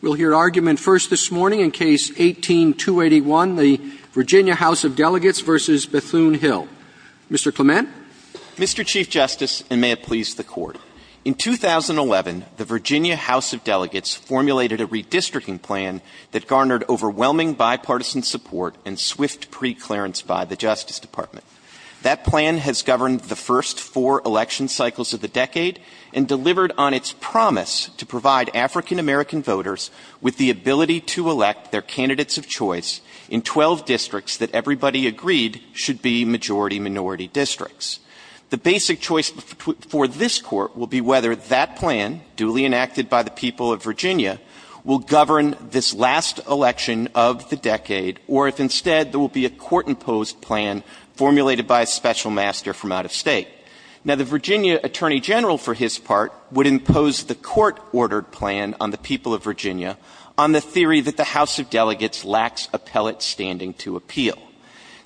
We'll hear argument first this morning in Case 18-281, the Virginia House of Delegates v. Bethune-Hill. Mr. Clement? Mr. Chief Justice, and may it please the Court, in 2011 the Virginia House of Delegates formulated a redistricting plan that garnered overwhelming bipartisan support and swift preclearance by the Justice Department. That plan has governed the first four election cycles of the decade and delivered on its promise to provide African-American voters with the ability to elect their candidates of choice in 12 districts that everybody agreed should be majority-minority districts. The basic choice for this Court will be whether that plan, duly enacted by the people of Virginia, will govern this last election of the decade, or if instead there will be a Court-imposed plan formulated by a special master from out of state. Now, the Virginia Attorney General, for his part, would impose the Court-ordered plan on the people of Virginia on the theory that the House of Delegates lacks appellate standing to appeal.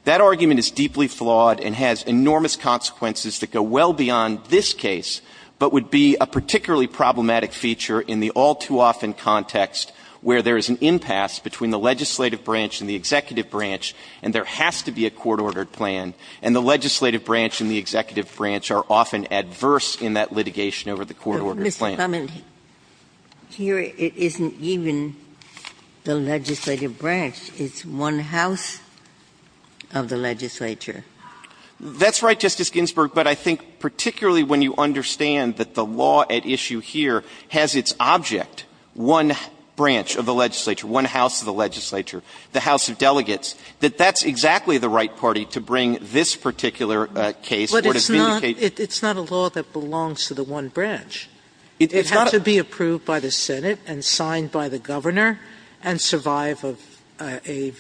That argument is deeply flawed and has enormous consequences that go well beyond this case, but would be a particularly problematic feature in the all-too-often context where there is an impasse between the legislative branch and the executive branch, and there has to be a Court-ordered plan, and the executive branch are often adverse in that litigation over the Court-ordered plan. Ginsburg. Mr. Clement, here it isn't even the legislative branch. It's one house of the legislature. Clement. That's right, Justice Ginsburg, but I think particularly when you understand that the law at issue here has its object, one branch of the legislature, one house of the legislature, the House of Delegates, that that's exactly the right party to bring this particular case or to vindicate. Sotomayor. But it's not a law that belongs to the one branch. Clement. It has to be approved by the Senate and signed by the governor and survive a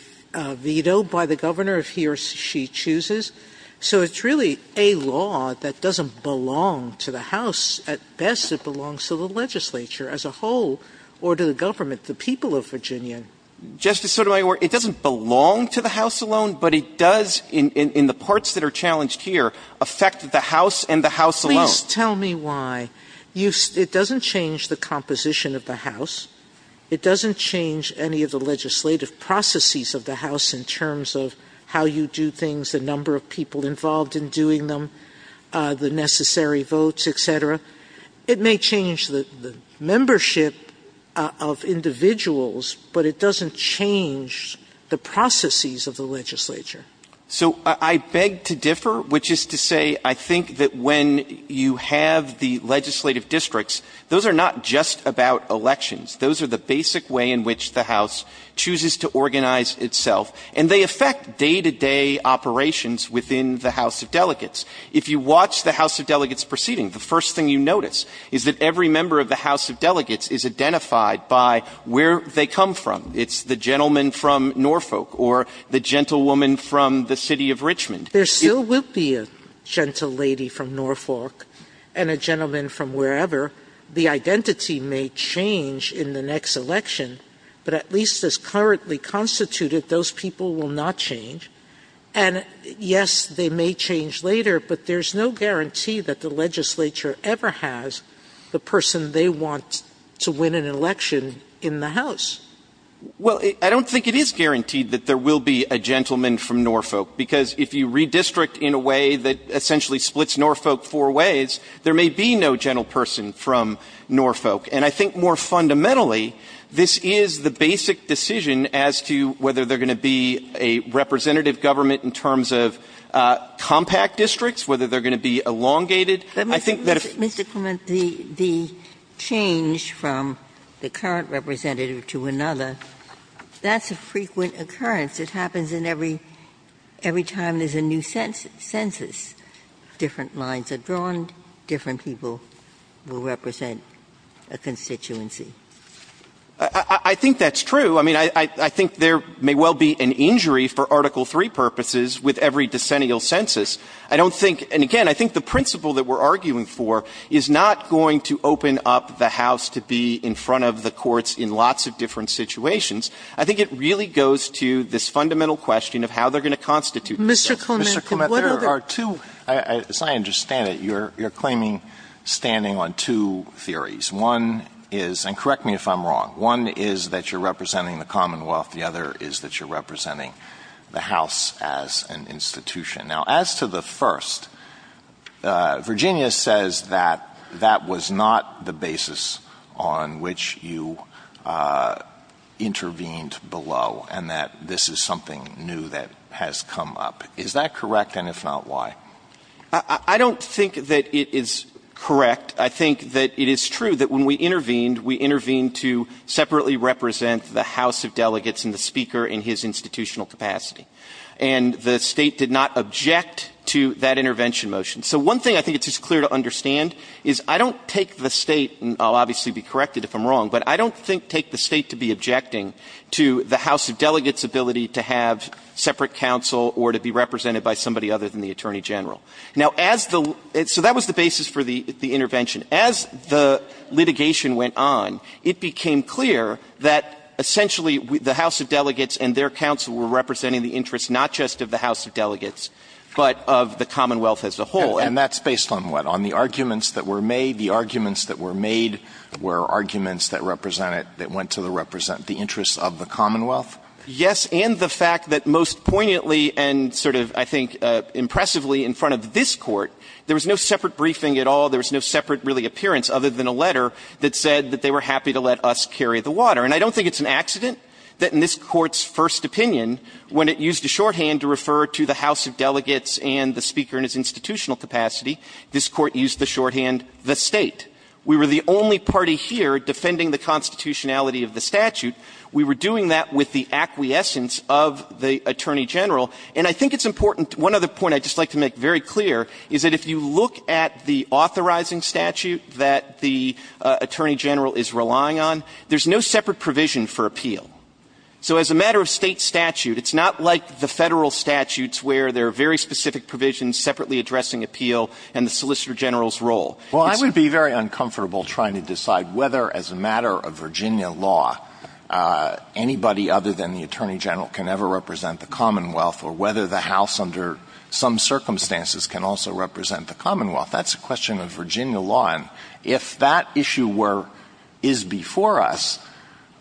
veto by the governor if he or she chooses. So it's really a law that doesn't belong to the House. At best, it belongs to the legislature as a whole or to the government, the people of Virginia. Justice Sotomayor, it doesn't belong to the House alone, but it does, in the parts that are challenged here, affect the House and the House alone. Sotomayor. Please tell me why. It doesn't change the composition of the House. It doesn't change any of the legislative processes of the House in terms of how you do things, the number of people involved in doing them, the necessary votes, etc. It may change the membership of individuals, but it doesn't change the processes of the legislature. Clement. So I beg to differ, which is to say I think that when you have the legislative districts, those are not just about elections. Those are the basic way in which the House chooses to organize itself, and they affect day-to-day operations within the House of Delegates. If you watch the House of Delegates proceeding, the first thing you notice is that every member of the House of Delegates is identified by where they come from. It's the gentleman from Norfolk or the gentlewoman from the city of Richmond. Sotomayor. There still will be a gentlelady from Norfolk and a gentleman from wherever. The identity may change in the next election, but at least as currently constituted, those people will not change. And, yes, they may change later, but there's no guarantee that the legislature ever has the person they want to win an election in the House. Well, I don't think it is guaranteed that there will be a gentleman from Norfolk, because if you redistrict in a way that essentially splits Norfolk four ways, there may be no gentleperson from Norfolk. And I think more fundamentally, this is the basic decision as to whether there are going to be a representative government in terms of compact districts, whether they're going to be elongated. I think that if the change from the current representative to another, that's a frequent occurrence. It happens in every time there's a new census. Different lines are drawn, different people will represent a constituency. I think that's true. I mean, I think there may well be an injury for Article III purposes with every decennial census. I don't think, and again, I think the principle that we're arguing for is not going to open up the House to be in front of the courts in lots of different situations. I think it really goes to this fundamental question of how they're going to constitute themselves. Mr. Clement, there are two, as I understand it, you're claiming standing on two theories. One is, and correct me if I'm wrong, one is that you're representing the Commonwealth. The other is that you're representing the House as an institution. Now, as to the first, Virginia says that that was not the basis on which you intervened below, and that this is something new that has come up. Is that correct, and if not, why? I don't think that it is correct. I think that it is true that when we intervened, we intervened to separately represent the House of Delegates and the Speaker in his institutional capacity. And the State did not object to that intervention motion. So one thing I think it's just clear to understand is I don't take the State, and I'll obviously be corrected if I'm wrong, but I don't think take the State to be the House of Delegates' ability to have separate counsel or to be represented by somebody other than the Attorney General. Now, as the so that was the basis for the intervention. As the litigation went on, it became clear that essentially the House of Delegates and their counsel were representing the interests not just of the House of Delegates, but of the Commonwealth as a whole. And that's based on what? On the arguments that were made. The arguments that were made were arguments that represented that went to the represent interests of the Commonwealth? Yes, and the fact that most poignantly and sort of, I think, impressively in front of this Court, there was no separate briefing at all. There was no separate, really, appearance other than a letter that said that they were happy to let us carry the water. And I don't think it's an accident that in this Court's first opinion, when it used a shorthand to refer to the House of Delegates and the Speaker in his institutional capacity, this Court used the shorthand, the State. We were the only party here defending the constitutionality of the statute. We were doing that with the acquiescence of the Attorney General. And I think it's important. One other point I'd just like to make very clear is that if you look at the authorizing statute that the Attorney General is relying on, there's no separate provision for appeal. So as a matter of State statute, it's not like the Federal statutes where there are very specific provisions separately addressing appeal and the Solicitor General's role. Well, I would be very uncomfortable trying to decide whether as a matter of Virginia law, anybody other than the Attorney General can ever represent the Commonwealth or whether the House under some circumstances can also represent the Commonwealth. That's a question of Virginia law. And if that issue were – is before us,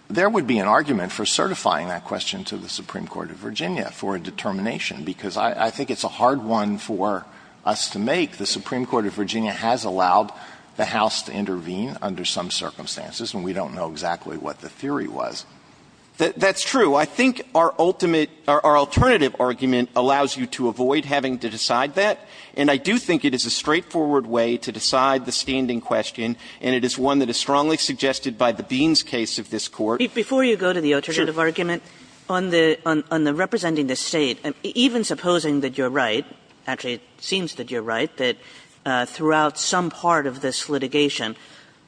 there would be an argument for certifying that question to the Supreme Court of Virginia for a determination, because I think it's a hard one for us to make. The Supreme Court of Virginia has allowed the House to intervene under some circumstances, but I don't think that's what the theory was. That's true. I think our ultimate – our alternative argument allows you to avoid having to decide that, and I do think it is a straightforward way to decide the standing question, and it is one that is strongly suggested by the Beans case of this Court. Before you go to the alternative argument, on the representing the State, even supposing that you're right – actually, it seems that you're right – that throughout some part of this litigation,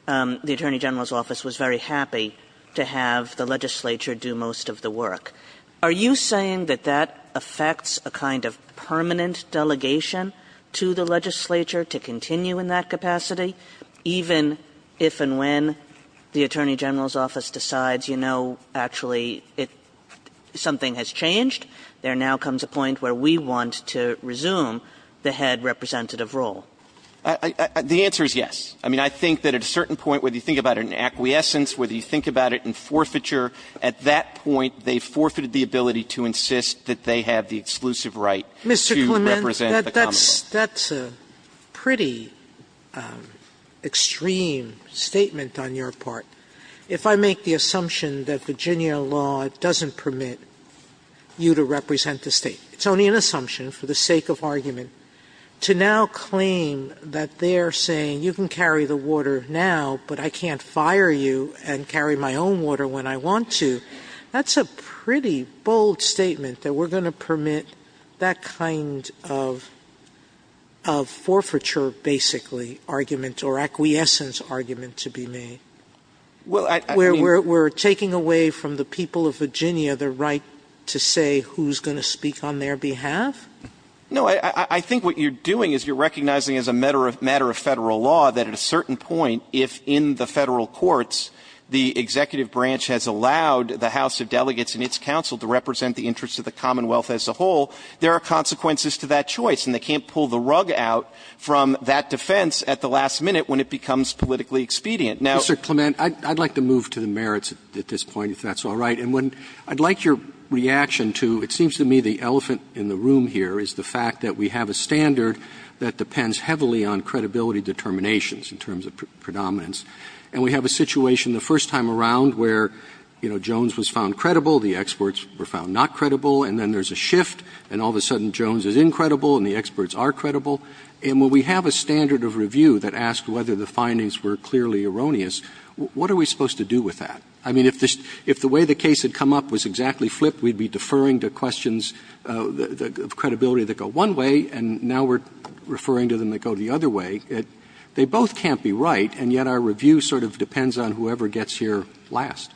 the Attorney General's office was very happy to have the legislature do most of the work. Are you saying that that affects a kind of permanent delegation to the legislature to continue in that capacity, even if and when the Attorney General's office decides, you know, actually, it – something has changed? There now comes a point where we want to resume the head representative role. The answer is yes. I mean, I think that at a certain point, whether you think about it in acquiescence, whether you think about it in forfeiture, at that point, they forfeited the ability to insist that they have the exclusive right to represent the common law. Sotomayor, that's a pretty extreme statement on your part. If I make the assumption that Virginia law doesn't permit you to represent the State – it's only an assumption, for the sake of argument – to now claim that they're saying, you can carry the water now, but I can't fire you and carry my own water when I want to, that's a pretty bold statement, that we're going to permit that kind of forfeiture, basically, argument, or acquiescence argument to be made, where we're taking away from the people of Virginia the right to say who's going to speak on their behalf? No. I think what you're doing is you're recognizing as a matter of Federal law that at a certain point, if in the Federal courts, the executive branch has allowed the House of Delegates and its counsel to represent the interests of the Commonwealth as a whole, there are consequences to that choice, and they can't pull the rug out from that defense at the last minute when it becomes politically expedient. Mr. Clement, I'd like to move to the merits at this point, if that's all right. And I'd like your reaction to, it seems to me the elephant in the room here is the fact that we have a standard that depends heavily on credibility determinations in terms of predominance. And we have a situation the first time around where, you know, Jones was found credible, the experts were found not credible, and then there's a shift, and all of a sudden Jones is incredible and the experts are credible. And when we have a standard of review that asks whether the findings were clearly erroneous, what are we supposed to do with that? I mean, if the way the case had come up was exactly flipped, we'd be deferring to questions of credibility that go one way, and now we're referring to them that go the other way. They both can't be right, and yet our review sort of depends on whoever gets here last.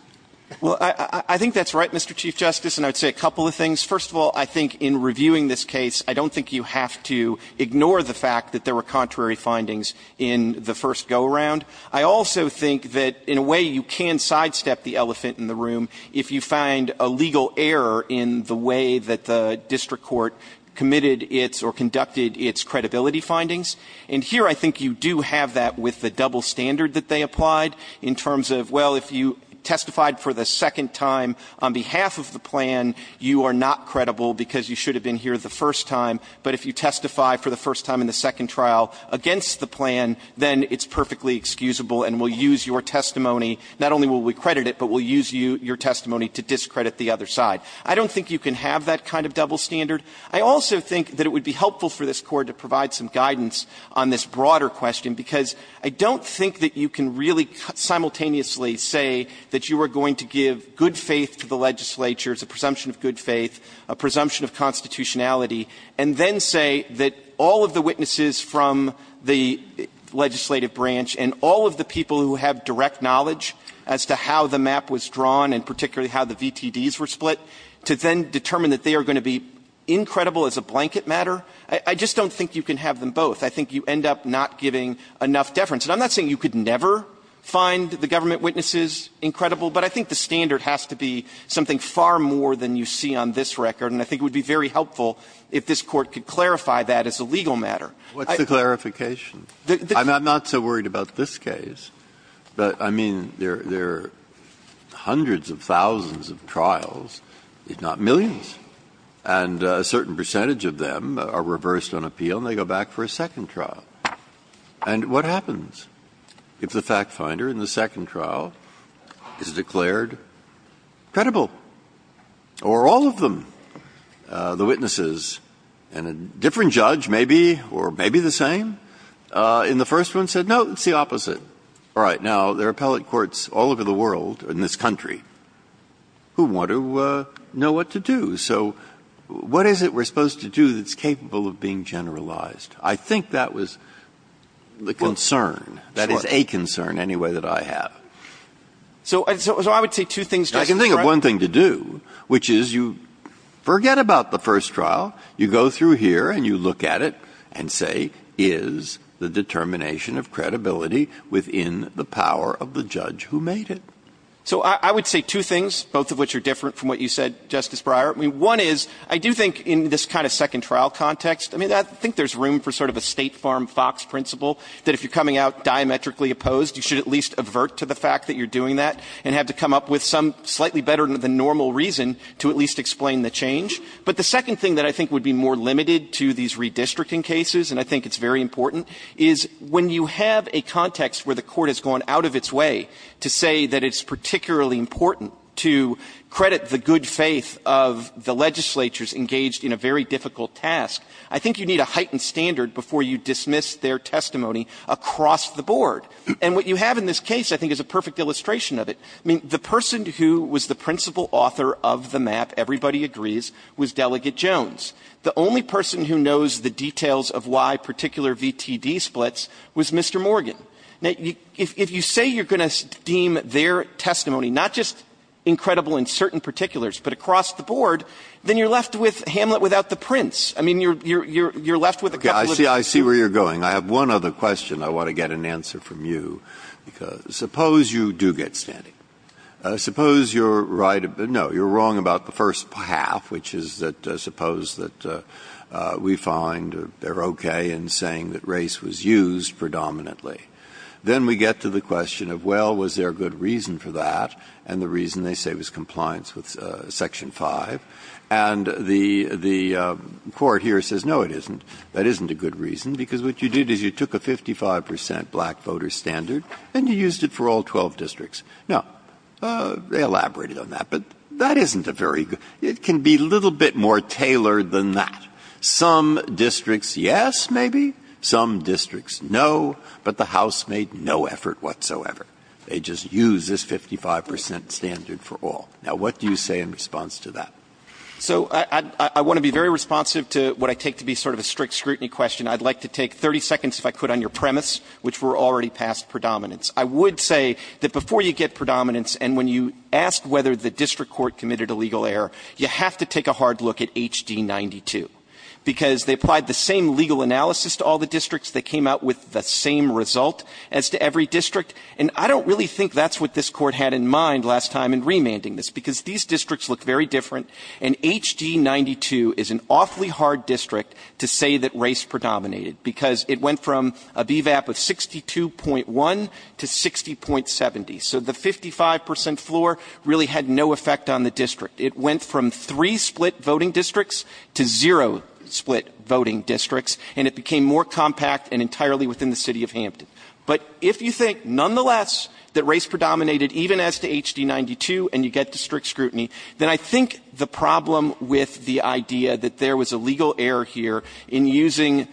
Well, I think that's right, Mr. Chief Justice, and I'd say a couple of things. First of all, I think in reviewing this case, I don't think you have to ignore the fact that there were contrary findings in the first go-around. I also think that in a way you can sidestep the elephant in the room if you find a legal error in the way that the district court committed its or conducted its credibility findings. And here I think you do have that with the double standard that they applied in terms of, well, if you testified for the second time on behalf of the plan, you are not credible because you should have been here the first time, but if you testify for the first time in the second trial against the plan, then it's perfectly excusable and we'll use your testimony. Not only will we credit it, but we'll use your testimony to discredit the other side. I don't think you can have that kind of double standard. I also think that it would be helpful for this Court to provide some guidance on this broader question, because I don't think that you can really simultaneously say that you are going to give good faith to the legislature as a presumption of good faith, a presumption of constitutionality, and then say that all of the witnesses from the legislative branch and all of the people who have direct knowledge as to how the map was drawn and particularly how the VTDs were split, to then determine that they are going to be incredible as a blanket matter. I just don't think you can have them both. I think you end up not giving enough deference. And I'm not saying you could never find the government witnesses incredible, but I think the standard has to be something far more than you see on this record, and I think it would be very helpful if this Court could clarify that as a legal matter. Breyer. What's the clarification? I'm not so worried about this case, but, I mean, there are hundreds of thousands of trials, if not millions, and a certain percentage of them are reversed on appeal and they go back for a second trial. And what happens if the fact finder in the second trial is declared credible? Or all of them, the witnesses and a different judge, maybe, or maybe the same, in the first one said, no, it's the opposite. All right. Now, there are appellate courts all over the world, in this country, who want to know what to do. So what is it we're supposed to do that's capable of being generalized? I think that was the concern, that is a concern, anyway, that I have. So I would say two things, Justice Breyer. I can think of one thing to do, which is you forget about the first trial, you go through here and you look at it and say, is the determination of credibility within the power of the judge who made it? So I would say two things, both of which are different from what you said, Justice Breyer. I mean, one is, I do think in this kind of second trial context, I mean, I think there's room for sort of a State Farm Fox principle, that if you're coming out diametrically opposed, you should at least avert to the fact that you're doing that and have to come up with some slightly better than normal reason to at least explain the change. But the second thing that I think would be more limited to these redistricting cases, and I think it's very important, is when you have a context where the Court has gone out of its way to say that it's particularly important to credit the good faith of the legislatures engaged in a very difficult task, I think you need a heightened standard before you dismiss their testimony across the board. And what you have in this case, I think, is a perfect illustration of it. I mean, the person who was the principal author of the map, everybody agrees, was Delegate Jones. The only person who knows the details of why particular VTD splits was Mr. Morgan. Now, if you say you're going to deem their testimony not just incredible in certain particulars, but across the board, then you're left with Hamlet without the prince. I mean, you're left with a couple of issues. I see where you're going. I have one other question I want to get an answer from you. Suppose you do get standing. Suppose you're right, no, you're wrong about the first half, which is that suppose that we find they're okay in saying that race was used predominantly. Then we get to the question of, well, was there a good reason for that, and the reason they say was compliance with Section 5. And the Court here says, no, it isn't. That isn't a good reason, because what you did is you took a 55 percent black voter standard and you used it for all 12 districts. Now, they elaborated on that, but that isn't a very good – it can be a little bit more tailored than that. Some districts, yes, maybe. Some districts, no. But the House made no effort whatsoever. They just used this 55 percent standard for all. Now, what do you say in response to that? So I want to be very responsive to what I take to be sort of a strict scrutiny question. I'd like to take 30 seconds, if I could, on your premise, which were already past predominance. I would say that before you get predominance and when you ask whether the district court committed a legal error, you have to take a hard look at HD92, because they applied the same legal analysis to all the districts. They came out with the same result as to every district. And I don't really think that's what this Court had in mind last time in remanding this, because these districts look very different, and HD92 is an awfully hard district to say that race predominated, because it went from a BVAP of 62.1 to 60.70. So the 55 percent floor really had no effect on the district. It went from three split voting districts to zero split voting districts, and it became more compact and entirely within the city of Hampton. But if you think nonetheless that race predominated, even as to HD92, and you get to strict scrutiny, then I think the problem with the idea that there was a legal error here in using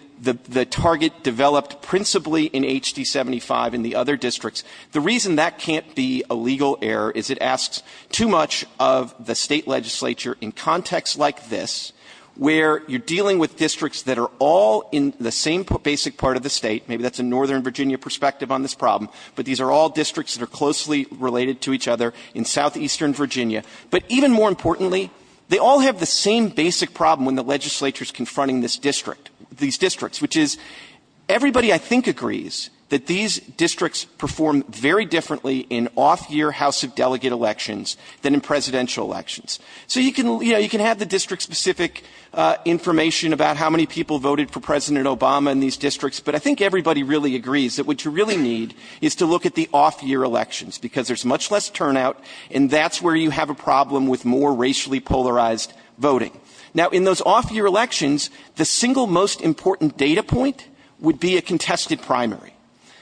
the target developed principally in HD75 in the other districts, the reason that can't be a legal error is it asks too much of the State legislature in contexts like this, where you're dealing with districts that are all in the same basic part of the State. Maybe that's a northern Virginia perspective on this problem, but these are all districts that are closely related to each other in southeastern Virginia. But even more importantly, they all have the same basic problem when the legislature is confronting this district, these districts, which is everybody, I think, agrees that these districts perform very differently in off-year House of Delegate elections than in presidential elections. So you can, you know, you can have the district-specific information about how many people voted for President Obama in these districts, but I think everybody really agrees that what you really need is to look at the off-year elections, because there's much less turnout and that's where you have a problem with more racially polarized voting. Now in those off-year elections, the single most important data point would be a contested primary,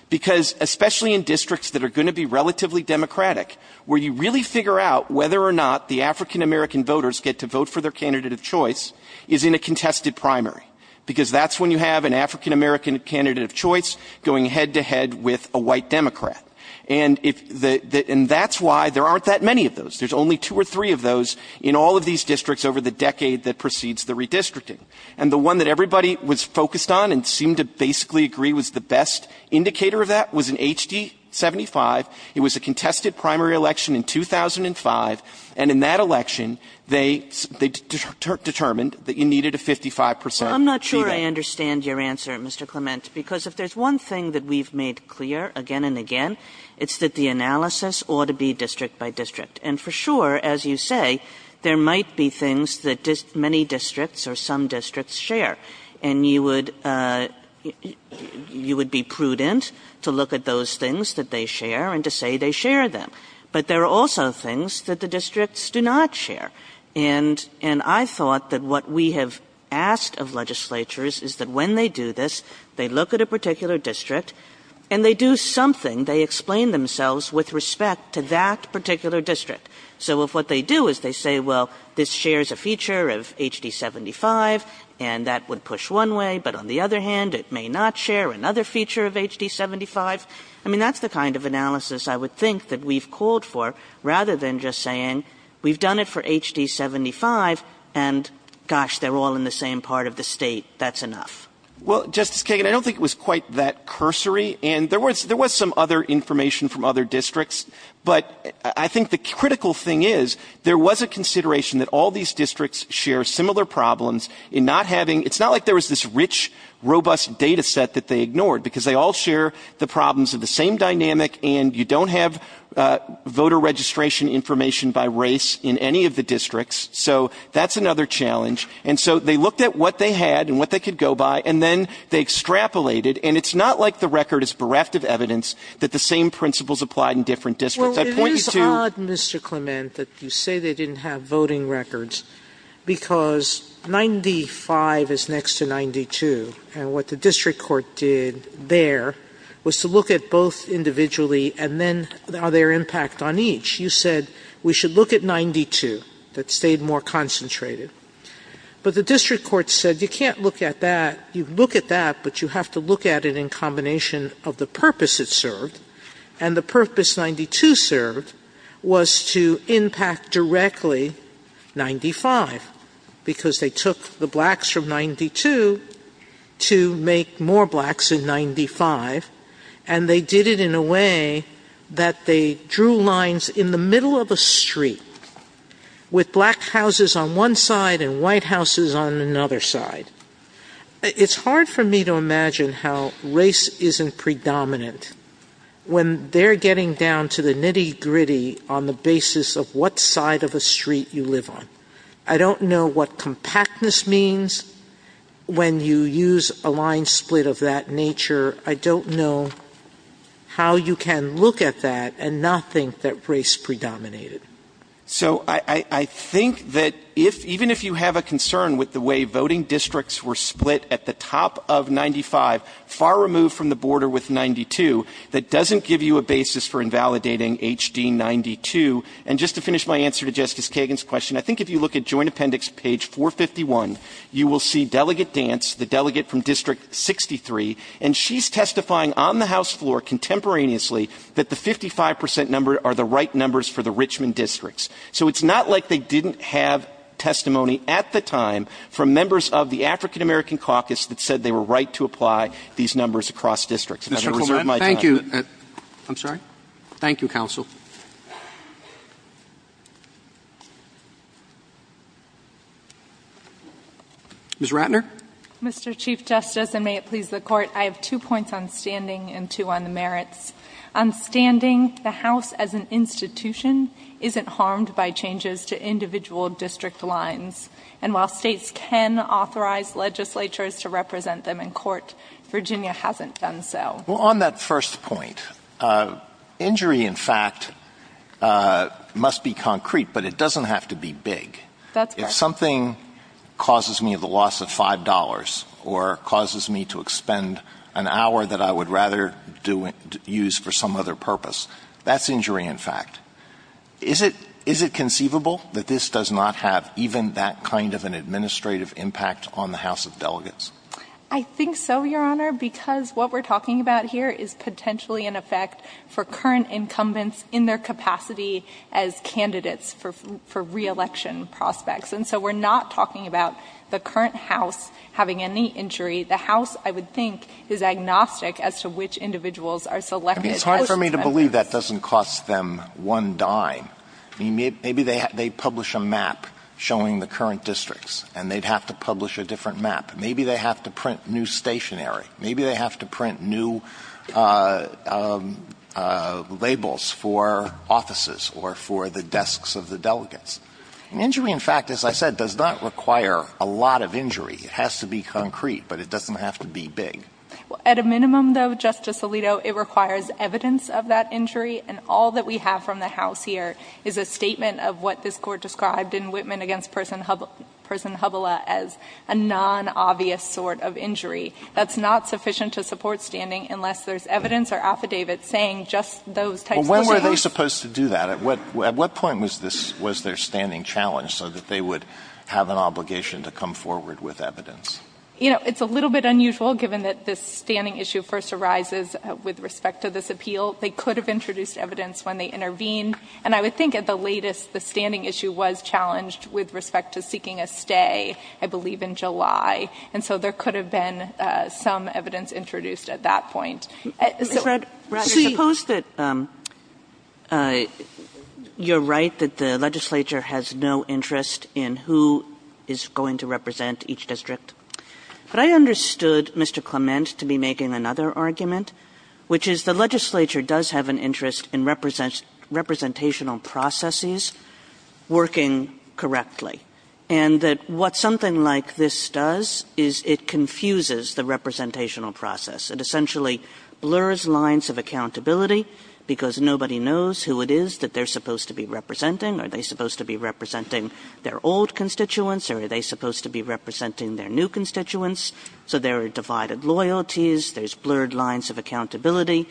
because especially in districts that are going to be relatively Democratic, where you really figure out whether or not the African-American voters get to vote for their candidate of choice, is in a contested primary, because that's when you have an African-American candidate of choice going head-to-head with a white Democrat. And if the – and that's why there aren't that many of those. There's only two or three of those in all of these districts over the decade that precedes the redistricting. And the one that everybody was focused on and seemed to basically agree was the best indicator of that was in HD-75. It was a contested primary election in 2005, and in that election, they – they determined that you needed a 55 percent fee there. KAGAN I'm not sure I understand your answer, Mr. Clement, because if there's one thing that we've made clear again and again, it's that the analysis ought to be district-by-district. And for sure, as you say, there might be things that many districts or some districts share. And you would – you would be prudent to look at those things that they share and to say they share them. But there are also things that the districts do not share. And – and I thought that what we have asked of legislatures is that when they do this, they look at a particular district, and they do something, they explain themselves with respect to that particular district. So if what they do is they say, well, this shares a feature of HD-75, and that would push one way, but on the other hand, it may not share another feature of HD-75, I mean, that's the kind of analysis I would think that we've called for rather than just saying we've done it for HD-75, and gosh, they're all in the same part of the state. That's enough. Well, Justice Kagan, I don't think it was quite that cursory. And there was – there was some other information from other districts. But I think the critical thing is there was a consideration that all these districts share similar problems in not having – it's not like there was this rich, robust data set that they ignored, because they all share the problems of the same dynamic, and you don't have voter registration information by race in any of the districts. So that's another challenge. And so they looked at what they had and what they could go by, and then they extrapolated. And it's not like the record is bereft of evidence that the same principles apply in different districts. I point you to – Well, it is odd, Mr. Clement, that you say they didn't have voting records, because 95 is next to 92, and what the district court did there was to look at both individually and then their impact on each. You said we should look at 92. That stayed more concentrated. But the district court said you can't look at that. You look at that, but you have to look at it in combination of the purpose it served. And the purpose 92 served was to impact directly 95, because they took the blacks from 92 to make more blacks in 95, and they did it in a way that they drew lines in the middle of a street with black houses on one side and white houses on another side. It's hard for me to imagine how race isn't predominant when they're getting down to the nitty-gritty on the basis of what side of a street you live on. I don't know what compactness means when you use a line split of that nature. I don't know how you can look at that and not think that race predominated. So I think that even if you have a concern with the way voting districts were split at the top of 95, far removed from the border with 92, that doesn't give you a basis for invalidating HD 92. And just to finish my answer to Justice Kagan's question, I think if you look at Joint Appendix page 451, you will see Delegate Dance, the delegate from District 63, and she's testifying on the House floor contemporaneously that the 55 percent number are the right numbers for the Richmond districts. So it's not like they didn't have testimony at the time from members of the African-American Caucus that said they were right to apply these numbers across districts. If I may reserve my time. Mr. Coleman, thank you. I'm sorry? Thank you, counsel. Ms. Ratner? Mr. Chief Justice, and may it please the Court, I have two points on standing and two on the merits. On standing, the House as an institution isn't harmed by changes to individual district lines. And while States can authorize legislatures to represent them in court, Virginia hasn't done so. Well, on that first point, injury, in fact, must be concrete, but it doesn't have to be big. That's correct. If something causes me the loss of $5 or causes me to expend an hour that I would rather use for some other purpose, that's injury, in fact. Is it conceivable that this does not have even that kind of an administrative impact on the House of Delegates? I think so, Your Honor, because what we're talking about here is potentially an effect for current incumbents in their capacity as candidates for re-election prospects. And so we're not talking about the current House having any injury. The House, I would think, is agnostic as to which individuals are selected as candidates. I mean, it's hard for me to believe that doesn't cost them one dime. I mean, maybe they publish a map showing the current districts, and they'd have to publish a different map. Maybe they have to print new stationery. Maybe they have to print new labels for offices or for the desks of the delegates. And injury, in fact, as I said, does not require a lot of injury. It has to be concrete, but it doesn't have to be big. Well, at a minimum, though, Justice Alito, it requires evidence of that injury, and all that we have from the House here is a statement of what this Court described in Whitman v. Person Hubbella as a non-obvious sort of injury. That's not sufficient to support standing unless there's evidence or affidavits saying just those types of things. Well, when were they supposed to do that? At what point was their standing challenged so that they would have an obligation to come forward with evidence? You know, it's a little bit unusual given that this standing issue first arises with respect to this appeal. They could have introduced evidence when they intervened, and I would think at the time, the standing issue was challenged with respect to seeking a stay, I believe, in July. And so there could have been some evidence introduced at that point. So Mrs. Rager, suppose that you're right, that the legislature has no interest in who is going to represent each district. But I understood Mr. Clement to be making another argument, which is the legislature does have an interest in representational processes working correctly, and that what something like this does is it confuses the representational process. It essentially blurs lines of accountability because nobody knows who it is that they're supposed to be representing. Are they supposed to be representing their old constituents, or are they supposed to be representing their new constituents? So there are divided loyalties. There's blurred lines of accountability.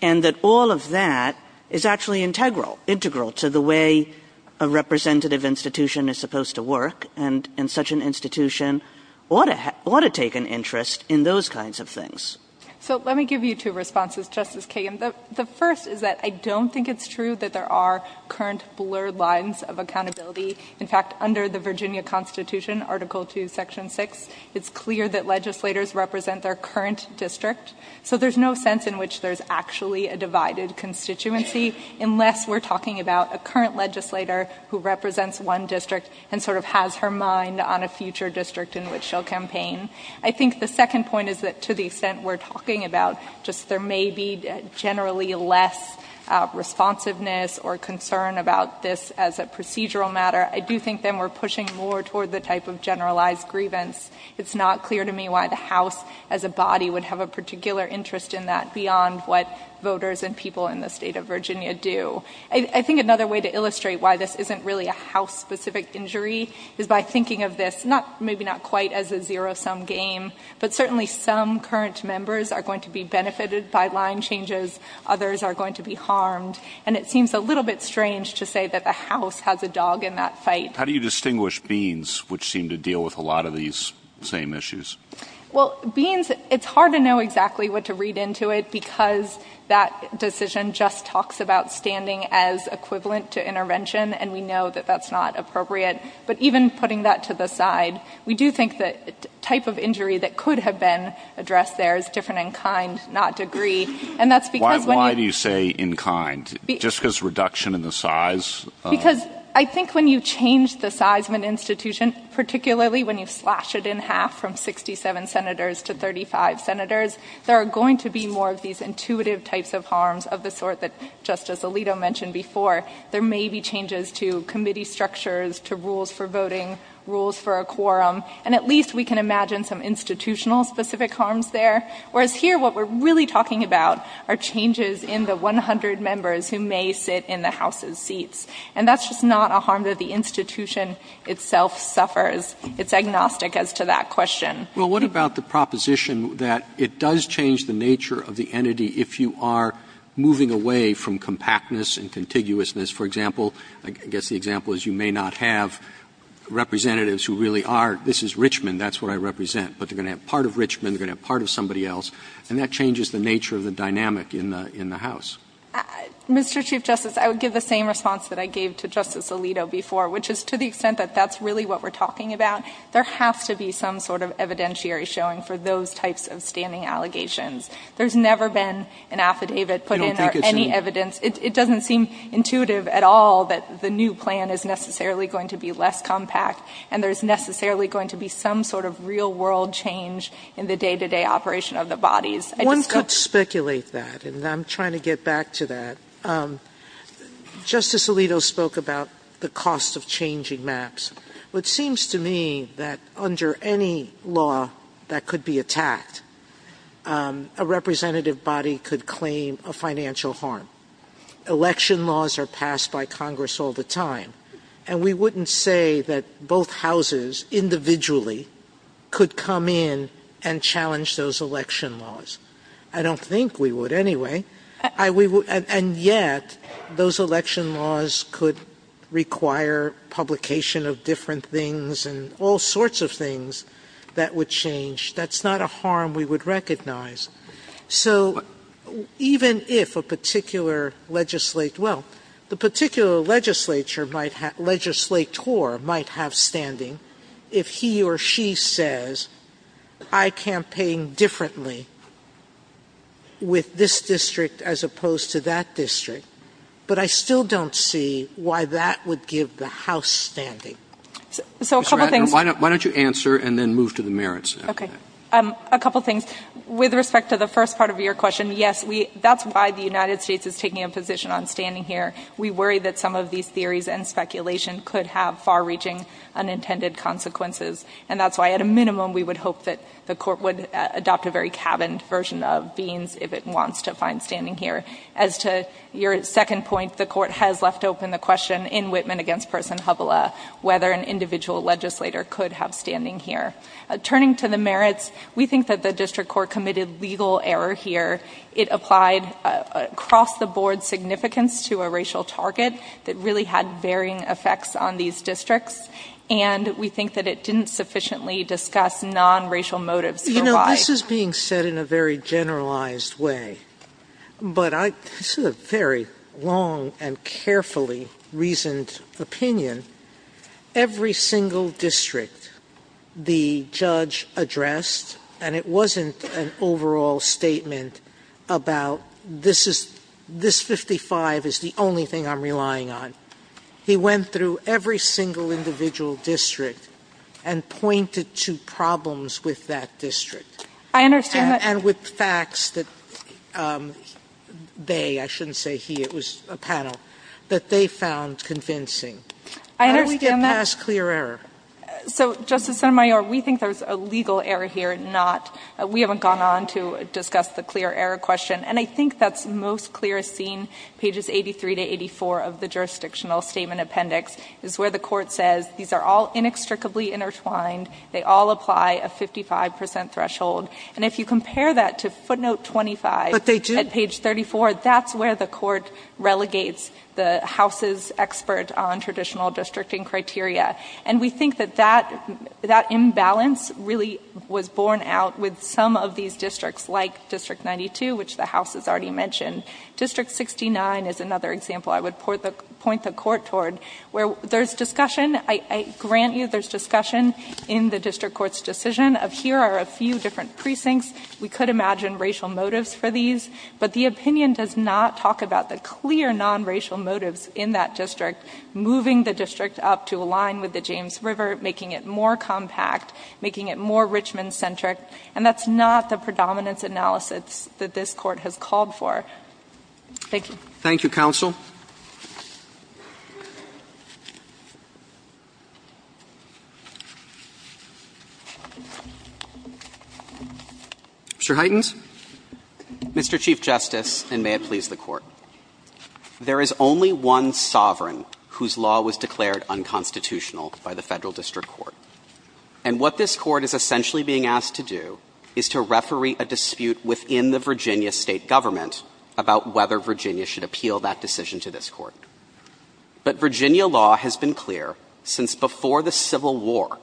And that all of that is actually integral, integral to the way a representative institution is supposed to work, and such an institution ought to take an interest in those kinds of things. So let me give you two responses, Justice Kagan. The first is that I don't think it's true that there are current blurred lines of accountability. In fact, under the Virginia Constitution, Article II, Section 6, it's clear that legislators represent their current district. So there's no sense in which there's actually a divided constituency unless we're talking about a current legislator who represents one district and sort of has her mind on a future district in which she'll campaign. I think the second point is that to the extent we're talking about just there may be generally less responsiveness or concern about this as a procedural matter, I do think then we're pushing more toward the type of generalized grievance. It's not clear to me why the House as a body would have a particular interest in that beyond what voters and people in the state of Virginia do. I think another way to illustrate why this isn't really a House-specific injury is by thinking of this, maybe not quite as a zero-sum game, but certainly some current members are going to be benefited by line changes. Others are going to be harmed. And it seems a little bit strange to say that the House has a dog in that fight. How do you distinguish Beans, which seem to deal with a lot of these same issues? Well, Beans, it's hard to know exactly what to read into it because that decision just talks about standing as equivalent to intervention, and we know that that's not appropriate. But even putting that to the side, we do think the type of injury that could have been addressed there is different in kind, not degree. And that's because— Why do you say in kind? Just because reduction in the size? Because I think when you change the size of an institution, particularly when you slash it in half from 67 senators to 35 senators, there are going to be more of these intuitive types of harms of the sort that Justice Alito mentioned before. There may be changes to committee structures, to rules for voting, rules for a quorum, and at least we can imagine some institutional-specific harms there. Whereas here, what we're really talking about are changes in the 100 members who may sit in the House's seats. And that's just not a harm that the institution itself suffers. It's agnostic as to that question. Well, what about the proposition that it does change the nature of the entity if you are moving away from compactness and contiguousness? For example, I guess the example is you may not have representatives who really are, this is Richmond, that's what I represent, but they're going to have part of Richmond, they're going to have part of somebody else, and that changes the nature of the dynamic in the House. Mr. Chief Justice, I would give the same response that I gave to Justice Alito before, which is to the extent that that's really what we're talking about, there has to be some sort of evidentiary showing for those types of standing allegations. There's never been an affidavit put in or any evidence. It doesn't seem intuitive at all that the new plan is necessarily going to be less compact, and there's necessarily going to be some sort of real-world change in the day-to-day operation of the bodies. One could speculate that, and I'm trying to get back to that. Justice Alito spoke about the cost of changing maps. It seems to me that under any law that could be attacked, a representative body could claim a financial harm. Election laws are passed by Congress all the time, and we wouldn't say that both houses individually could come in and challenge those election laws. I don't think we would anyway. And yet, those election laws could require publication of different things and all sorts of things that would change. That's not a harm we would recognize. So even if a particular legislator – well, the particular legislator might have standing if he or she says, I campaign differently with this district as opposed to that district, but I still don't see why that would give the House standing. So a couple of things – Mr. Ratner, why don't you answer and then move to the merits after that? Okay. A couple of things. With respect to the first part of your question, yes, that's why the United States is taking a position on standing here. We worry that some of these theories and speculation could have far-reaching unintended consequences. And that's why, at a minimum, we would hope that the Court would adopt a very cabined version of Beans if it wants to find standing here. As to your second point, the Court has left open the question in Whitman against Person Hubbella whether an individual legislator could have standing here. Turning to the merits, we think that the district court committed legal error here. It applied across-the-board significance to a racial target that really had varying effects on these districts, and we think that it didn't sufficiently discuss non-racial motives for why – You know, this is being said in a very generalized way, but I – this is a very long and carefully reasoned opinion. Every single district, the judge addressed – and it wasn't an overall statement about this is – this 55 is the only thing I'm relying on. He went through every single individual district and pointed to problems with that district. And with facts that they – I shouldn't say he, it was a panel – that they found convincing. How do we get past clear error? So, Justice Sotomayor, we think there's a legal error here, not – we haven't gone on to discuss the clear error question. And I think that's most clear as seen, pages 83 to 84 of the jurisdictional statement appendix, is where the court says these are all inextricably intertwined, they all apply a 55 percent threshold. And if you compare that to footnote 25 at page 34, that's where the court relegates the House's expert on traditional districting criteria. And we think that that imbalance really was borne out with some of these districts like District 92, which the House has already mentioned. District 69 is another example I would point the court toward, where there's discussion – I grant you there's discussion in the district court's decision of here are a few different precincts. We could imagine racial motives for these. But the opinion does not talk about the clear non-racial motives in that district moving the district up to align with the James River, making it more compact, making it more Richmond-centric. And that's not the predominance analysis that this Court has called for. Thank you. Roberts. Thank you, counsel. Mr. Heitens. Mr. Chief Justice, and may it please the Court. There is only one sovereign whose law was declared unconstitutional by the Federal District Court. And what this Court is essentially being asked to do is to referee a dispute within the Virginia State government about whether Virginia should appeal that decision to this Court. But Virginia law has been clear since before the Civil War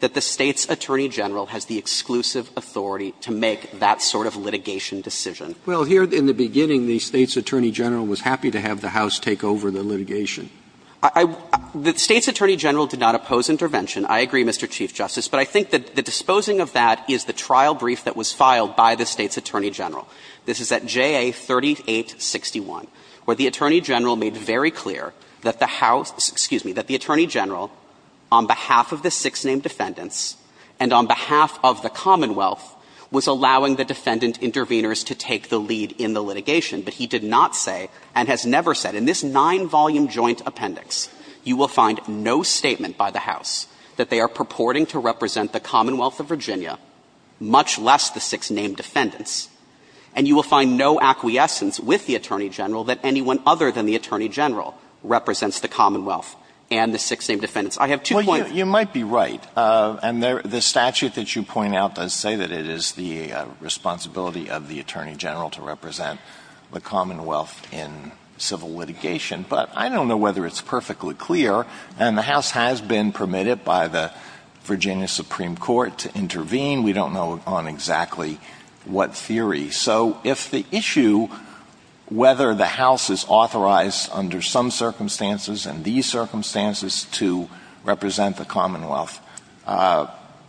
that the State's attorney general has the exclusive authority to make that sort of litigation decision. Well, here in the beginning, the State's attorney general was happy to have the House take over the litigation. I – the State's attorney general did not oppose intervention. I agree, Mr. Chief Justice. But I think that the disposing of that is the trial brief that was filed by the State's attorney general. This is at JA 3861, where the attorney general made very clear that the House – excuse me – that the attorney general, on behalf of the six named defendants and on behalf of the Commonwealth, was allowing the defendant intervenors to take the lead in the litigation, but he did not say and has never said in this nine-volume joint appendix you will find no statement by the House that they are purporting to represent the Commonwealth of Virginia, much less the six named defendants, and you will find no acquiescence with the attorney general that anyone other than the attorney general represents the Commonwealth and the six named defendants. I have two points. Alito, you might be right, and the statute that you point out does say that it is the responsibility of the attorney general to represent the Commonwealth in civil litigation, but I don't know whether it's perfectly clear, and the House has been permitted by the Virginia Supreme Court to intervene. We don't know on exactly what theory. So if the issue, whether the House is authorized under some circumstances and these circumstances to represent the Commonwealth,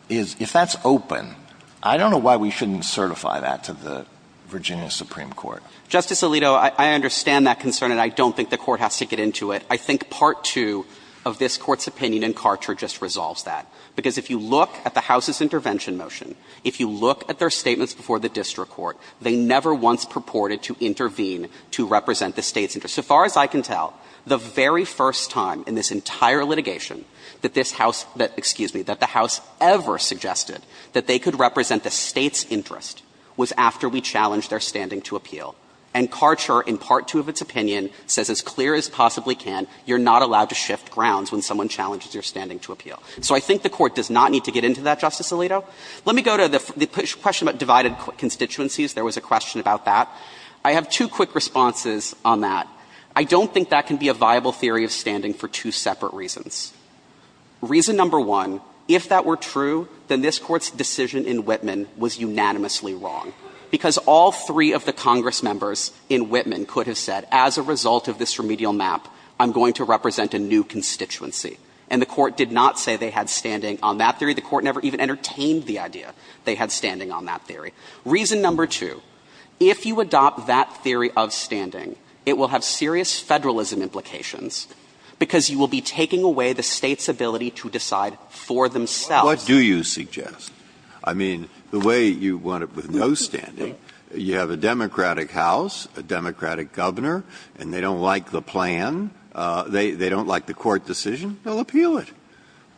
is – if that's open, I don't know why we shouldn't certify that to the Virginia Supreme Court. Justice Alito, I understand that concern, and I don't think the Court has to get into it. I think part two of this Court's opinion in Carcher just resolves that, because if you look at the House's intervention motion, if you look at their statements before the district court, they never once purported to intervene to represent the State's interest. So far as I can tell, the very first time in this entire litigation that this House – excuse me – that the House ever suggested that they could represent the State's interest in standing to appeal. And Carcher, in part two of its opinion, says, as clear as possibly can, you're not allowed to shift grounds when someone challenges your standing to appeal. So I think the Court does not need to get into that, Justice Alito. Let me go to the question about divided constituencies. There was a question about that. I have two quick responses on that. I don't think that can be a viable theory of standing for two separate reasons. Reason number one, if that were true, then this Court's decision in Whitman was unanimously wrong, because all three of the Congress members in Whitman could have said, as a result of this remedial map, I'm going to represent a new constituency. And the Court did not say they had standing on that theory. The Court never even entertained the idea they had standing on that theory. Reason number two, if you adopt that theory of standing, it will have serious Federalism implications, because you will be taking away the State's ability to decide for themselves. Breyer. What do you suggest? I mean, the way you want it with no standing, you have a Democratic House, a Democratic governor, and they don't like the plan, they don't like the court decision, they'll appeal it.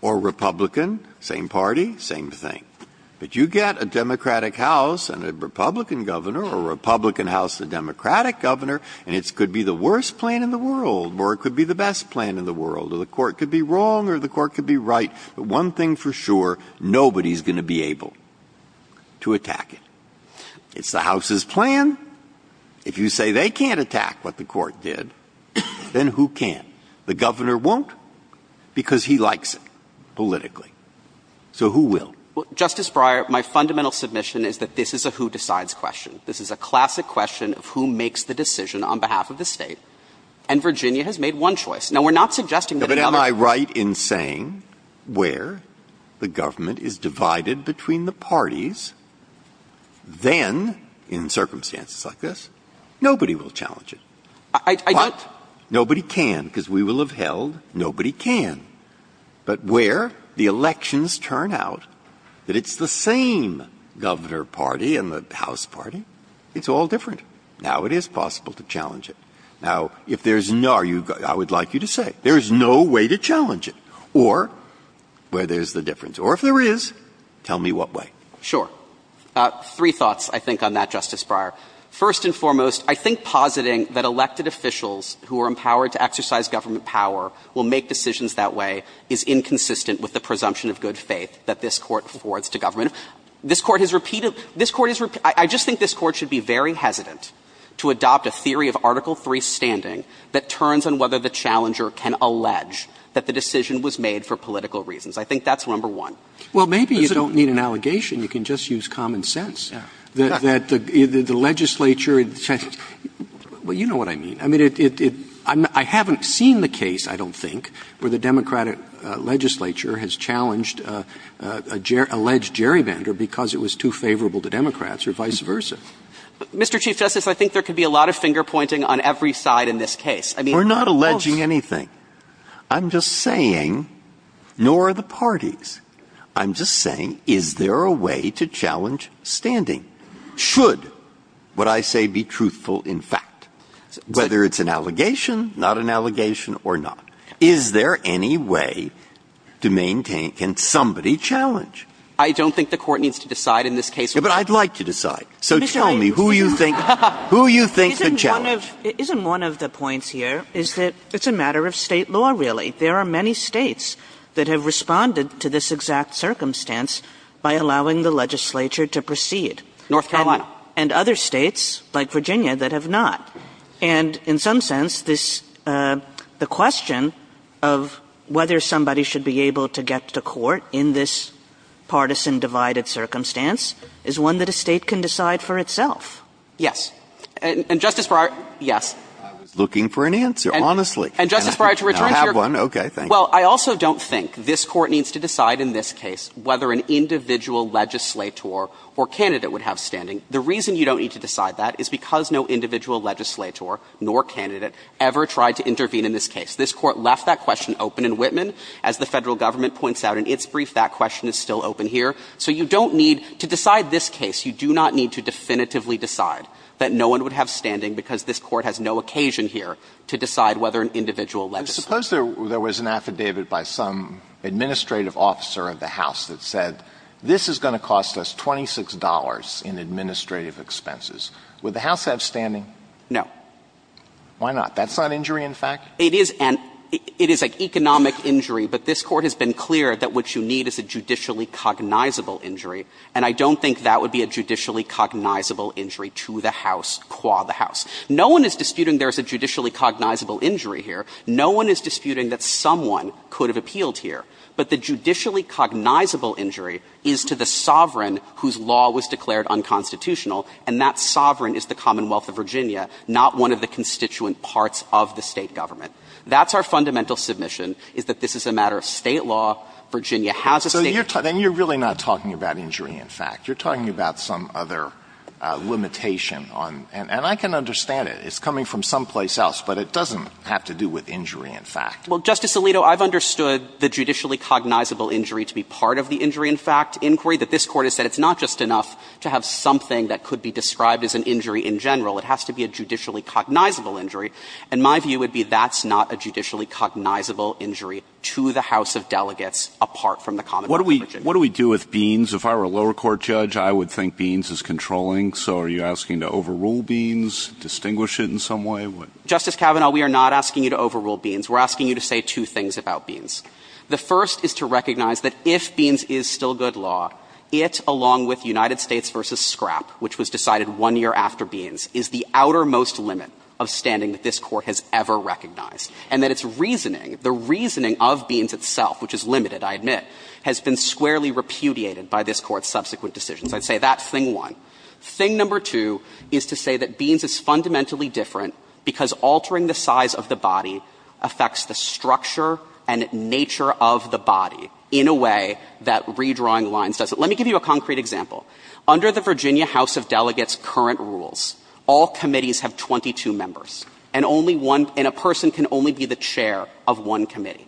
Or Republican, same party, same thing. But you get a Democratic House and a Republican governor, or Republican House and a Democratic governor, and it could be the worst plan in the world, or it could be the best plan in the world, or the Court could be wrong or the Court could be right. But one thing for sure, nobody's going to be able to attack it. It's the House's plan. If you say they can't attack what the Court did, then who can? The governor won't, because he likes it politically. So who will? Justice Breyer, my fundamental submission is that this is a who-decides question. This is a classic question of who makes the decision on behalf of the State. And Virginia has made one choice. Now, we're not suggesting that another question of who decides on behalf of the State Now, we're not suggesting that another question of who decides on behalf of the State where the government is divided between the parties, then, in circumstances like this, nobody will challenge it. But nobody can, because we will have held nobody can. But where the elections turn out that it's the same governor party and the House party, it's all different. Now it is possible to challenge it. Now, if there's no – I would like you to say, there is no way to challenge it. Or, where there's the difference. Or, if there is, tell me what way. Sure. Three thoughts, I think, on that, Justice Breyer. First and foremost, I think positing that elected officials who are empowered to exercise government power will make decisions that way is inconsistent with the presumption of good faith that this Court affords to government. This Court has repeated – this Court has – I just think this Court should be very hesitant to adopt a theory of Article III standing that turns on whether the challenger can allege that the decision was made for political reasons. I think that's number one. Well, maybe you don't need an allegation. You can just use common sense. That the legislature – well, you know what I mean. I mean, it – I haven't seen the case, I don't think, where the Democratic legislature has challenged a – alleged gerrymander because it was too favorable to Democrats, or vice versa. Mr. Chief Justice, I think there could be a lot of finger-pointing on every side in this case. We're not alleging anything. I'm just saying – nor are the parties. I'm just saying, is there a way to challenge standing? Should what I say be truthful in fact? Whether it's an allegation, not an allegation, or not. Is there any way to maintain – can somebody challenge? I don't think the Court needs to decide in this case. But I'd like to decide. So tell me who you think – who you think could challenge. One of – isn't one of the points here is that it's a matter of State law, really. There are many States that have responded to this exact circumstance by allowing the legislature to proceed. North Carolina. And other States, like Virginia, that have not. And in some sense, this – the question of whether somebody should be able to get to court in this partisan, divided circumstance is one that a State can decide for itself. Yes. And, Justice Breyer, yes. I was looking for an answer, honestly. And, Justice Breyer, to return to your question. I have one. Okay. Thank you. Well, I also don't think this Court needs to decide in this case whether an individual legislator or candidate would have standing. The reason you don't need to decide that is because no individual legislator nor candidate ever tried to intervene in this case. This Court left that question open in Whitman. As the Federal Government points out in its brief, that question is still open here. So you don't need – to decide this case, you do not need to definitively decide that no one would have standing, because this Court has no occasion here to decide whether an individual legislator. Suppose there was an affidavit by some administrative officer of the House that said, this is going to cost us $26 in administrative expenses. Would the House have standing? No. Why not? That's not injury, in fact? It is an – it is an economic injury, but this Court has been clear that what you need is a judicially cognizable injury, and I don't think that would be a judicially cognizable injury to the House qua the House. No one is disputing there's a judicially cognizable injury here. No one is disputing that someone could have appealed here. But the judicially cognizable injury is to the sovereign whose law was declared unconstitutional, and that sovereign is the Commonwealth of Virginia, not one of the constituent parts of the State government. That's our fundamental submission, is that this is a matter of State law. Virginia has a State law. Alitoson So you're really not talking about injury, in fact. You're talking about some other limitation on – and I can understand it. It's coming from someplace else, but it doesn't have to do with injury, in fact. Well, Justice Alito, I've understood the judicially cognizable injury to be part of the injury, in fact, inquiry, that this Court has said it's not just enough to have something that could be described as an injury in general. It has to be a judicially cognizable injury, and my view would be that's not a judicially cognizable injury to the House of Delegates apart from the Commonwealth of Virginia. What do we – what do we do with Beans? If I were a lower court judge, I would think Beans is controlling. So are you asking to overrule Beans, distinguish it in some way? Justice Kavanaugh, we are not asking you to overrule Beans. We're asking you to say two things about Beans. The first is to recognize that if Beans is still good law, it, along with United States v. Scrap, which was decided one year after Beans, is the outermost limit of standing that this Court has ever recognized, and that its reasoning, the reasoning of Beans itself, which is limited, I admit, has been squarely repudiated by this Court's subsequent decisions. I'd say that's thing one. Thing number two is to say that Beans is fundamentally different because altering the size of the body affects the structure and nature of the body in a way that redrawing lines does it. Let me give you a concrete example. Under the Virginia House of Delegates' current rules, all committees have 22 members, and only one – and a person can only be the chair of one committee.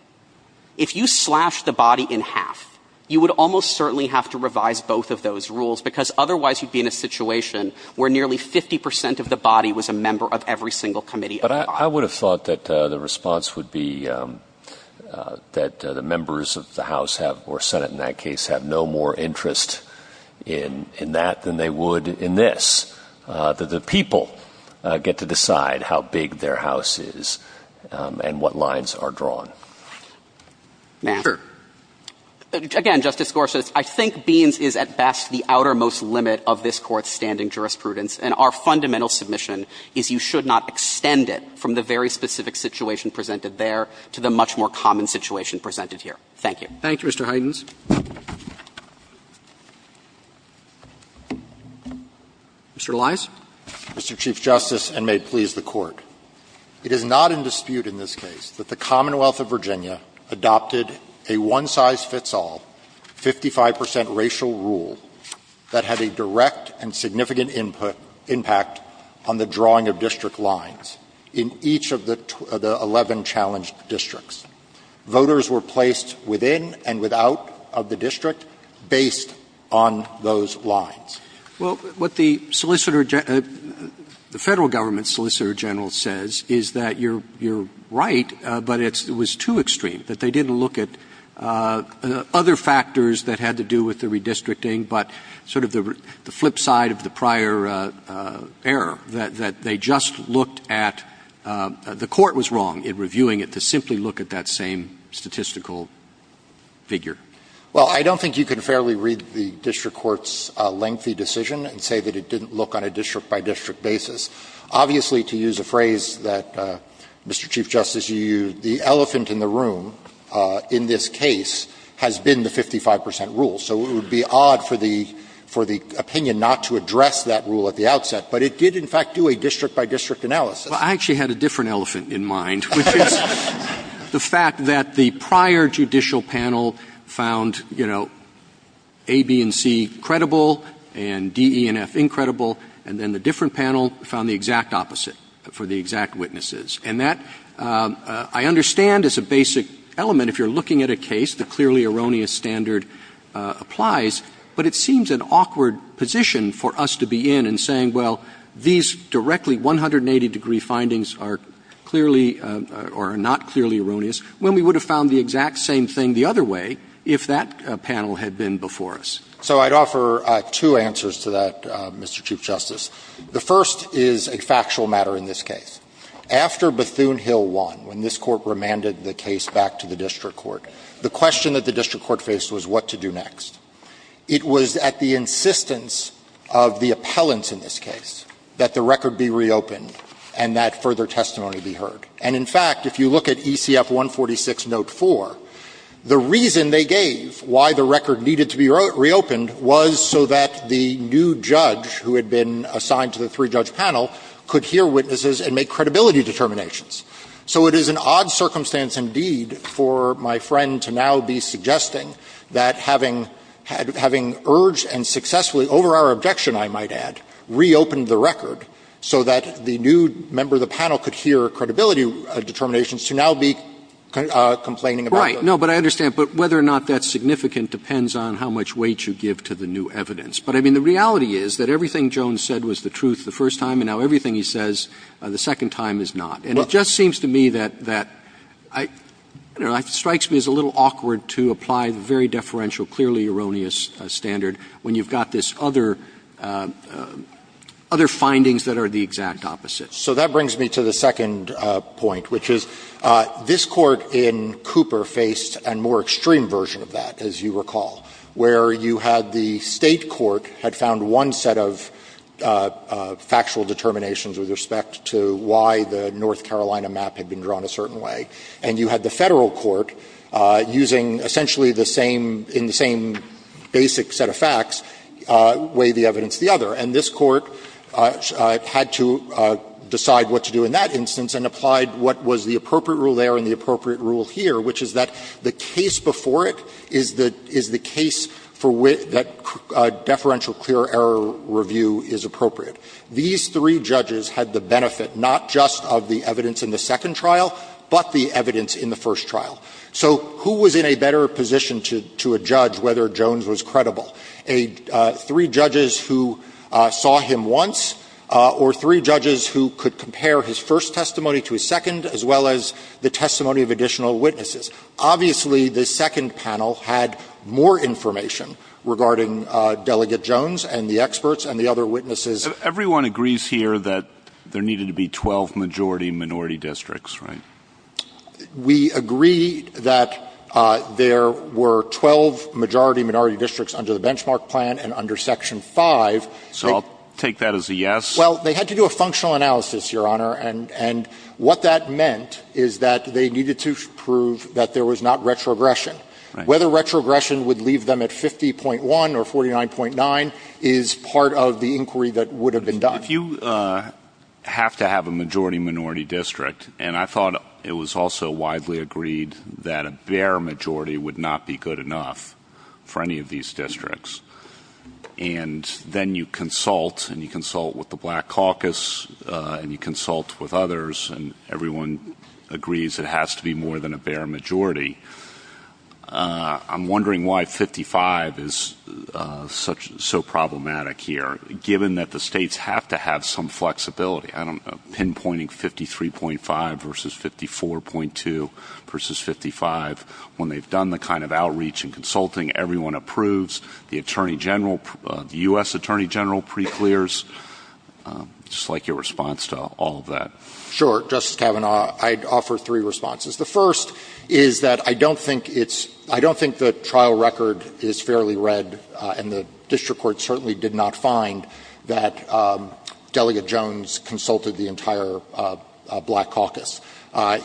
If you slashed the body in half, you would almost certainly have to revise both of those rules because otherwise you'd be in a situation where nearly 50 percent of the body was a member of every single committee. But I would have thought that the response would be that the members of the House have – or Senate, in that case – have no more interest in that than they would in this, that the people get to decide how big their house is and what lines are drawn. Now, again, Justice Gorsuch, I think Beans is at best the outermost limit of this Court's standing jurisprudence, and our fundamental submission is you should not extend it from the very specific situation presented there to the much more common situation presented here. Thank you. Roberts. Thank you, Mr. Heidens. Mr. Elias. Mr. Chief Justice, and may it please the Court, it is not in dispute in this case that the Commonwealth of Virginia adopted a one-size-fits-all, 55 percent racial rule that had a direct and significant input – impact on the drawing of district lines in each of the 11 challenged districts. Voters were placed within and without of the district based on those lines. Well, what the solicitor – the Federal Government solicitor general says is that you're right, but it was too extreme, that they didn't look at other factors that had to do with the redistricting, but sort of the flip side of the prior error, that they just looked at – the Court was wrong in reviewing it to simply look at that same statistical figure. Well, I don't think you can fairly read the district court's lengthy decision and say that it didn't look on a district-by-district basis. Obviously, to use a phrase that Mr. Chief Justice, you used, the elephant in the room in this case has been the 55 percent rule. So it would be odd for the – for the opinion not to address that rule at the outset. But it did, in fact, do a district-by-district analysis. Well, I actually had a different elephant in mind, which is the fact that the prior judicial panel found, you know, A, B, and C credible, and D, E, and F, incredible, and then the different panel found the exact opposite for the exact witnesses. And that, I understand, is a basic element. If you're looking at a case, the clearly erroneous standard applies. But it seems an awkward position for us to be in and saying, well, these directly 180-degree findings are clearly – or are not clearly erroneous, when we would have found the exact same thing the other way if that panel had been before us. So I'd offer two answers to that, Mr. Chief Justice. The first is a factual matter in this case. After Bethune Hill won, when this Court remanded the case back to the district court, the question that the district court faced was what to do next. It was at the insistence of the appellants in this case that the record be reopened and that further testimony be heard. And in fact, if you look at ECF 146, note 4, the reason they gave why the record needed to be reopened was so that the new judge who had been assigned to the three-judge panel could hear witnesses and make credibility determinations. So it is an odd circumstance indeed for my friend to now be suggesting that having urged and successfully, over our objection, I might add, reopened the record so that the new member of the panel could hear credibility determinations, to now be complaining about those. No, but I understand. But whether or not that's significant depends on how much weight you give to the new evidence. But I mean, the reality is that everything Jones said was the truth the first time, and now everything he says the second time is not. And it just seems to me that I don't know, it strikes me as a little awkward to apply the very deferential, clearly erroneous standard when you've got this other findings that are the exact opposite. So that brings me to the second point, which is this Court in Cooper faced a more extreme version of that, as you recall, where you had the State court had found one set of factual determinations with respect to why the North Carolina map had been drawn a certain way, and you had the Federal court using essentially the same, in the same basic set of facts, weigh the evidence the other. And this Court had to decide what to do in that instance and applied what was the appropriate rule there and the appropriate rule here, which is that the case before it is the case for which that deferential clear error review is appropriate. These three judges had the benefit not just of the evidence in the second trial, but the evidence in the first trial. So who was in a better position to judge whether Jones was credible? A three judges who saw him once or three judges who could compare his first testimony to his second, as well as the testimony of additional witnesses? Obviously, the second panel had more information regarding Delegate Jones and the experts and the other witnesses. Everyone agrees here that there needed to be 12 majority-minority districts, right? We agree that there were 12 majority-minority districts under the benchmark plan and under Section 5. So I'll take that as a yes. Well, they had to do a functional analysis, Your Honor, and what that meant is that they needed to prove that there was not retrogression. Whether retrogression would leave them at 50.1 or 49.9 is part of the inquiry that would have been done. Well, if you have to have a majority-minority district, and I thought it was also widely agreed that a bare majority would not be good enough for any of these districts, and then you consult and you consult with the Black Caucus and you consult with others and everyone agrees it has to be more than a bare majority, I'm wondering why 55 is so problematic here. Given that the states have to have some flexibility, I don't know, pinpointing 53.5 versus 54.2 versus 55, when they've done the kind of outreach and consulting, everyone approves, the Attorney General, the U.S. Attorney General pre-clears, I'd just like your response to all of that. Sure. Justice Kavanaugh, I'd offer three responses. The first is that I don't think it's – I don't think the trial record is fairly read, and the district court certainly did not find that Delegate Jones consulted the entire Black Caucus.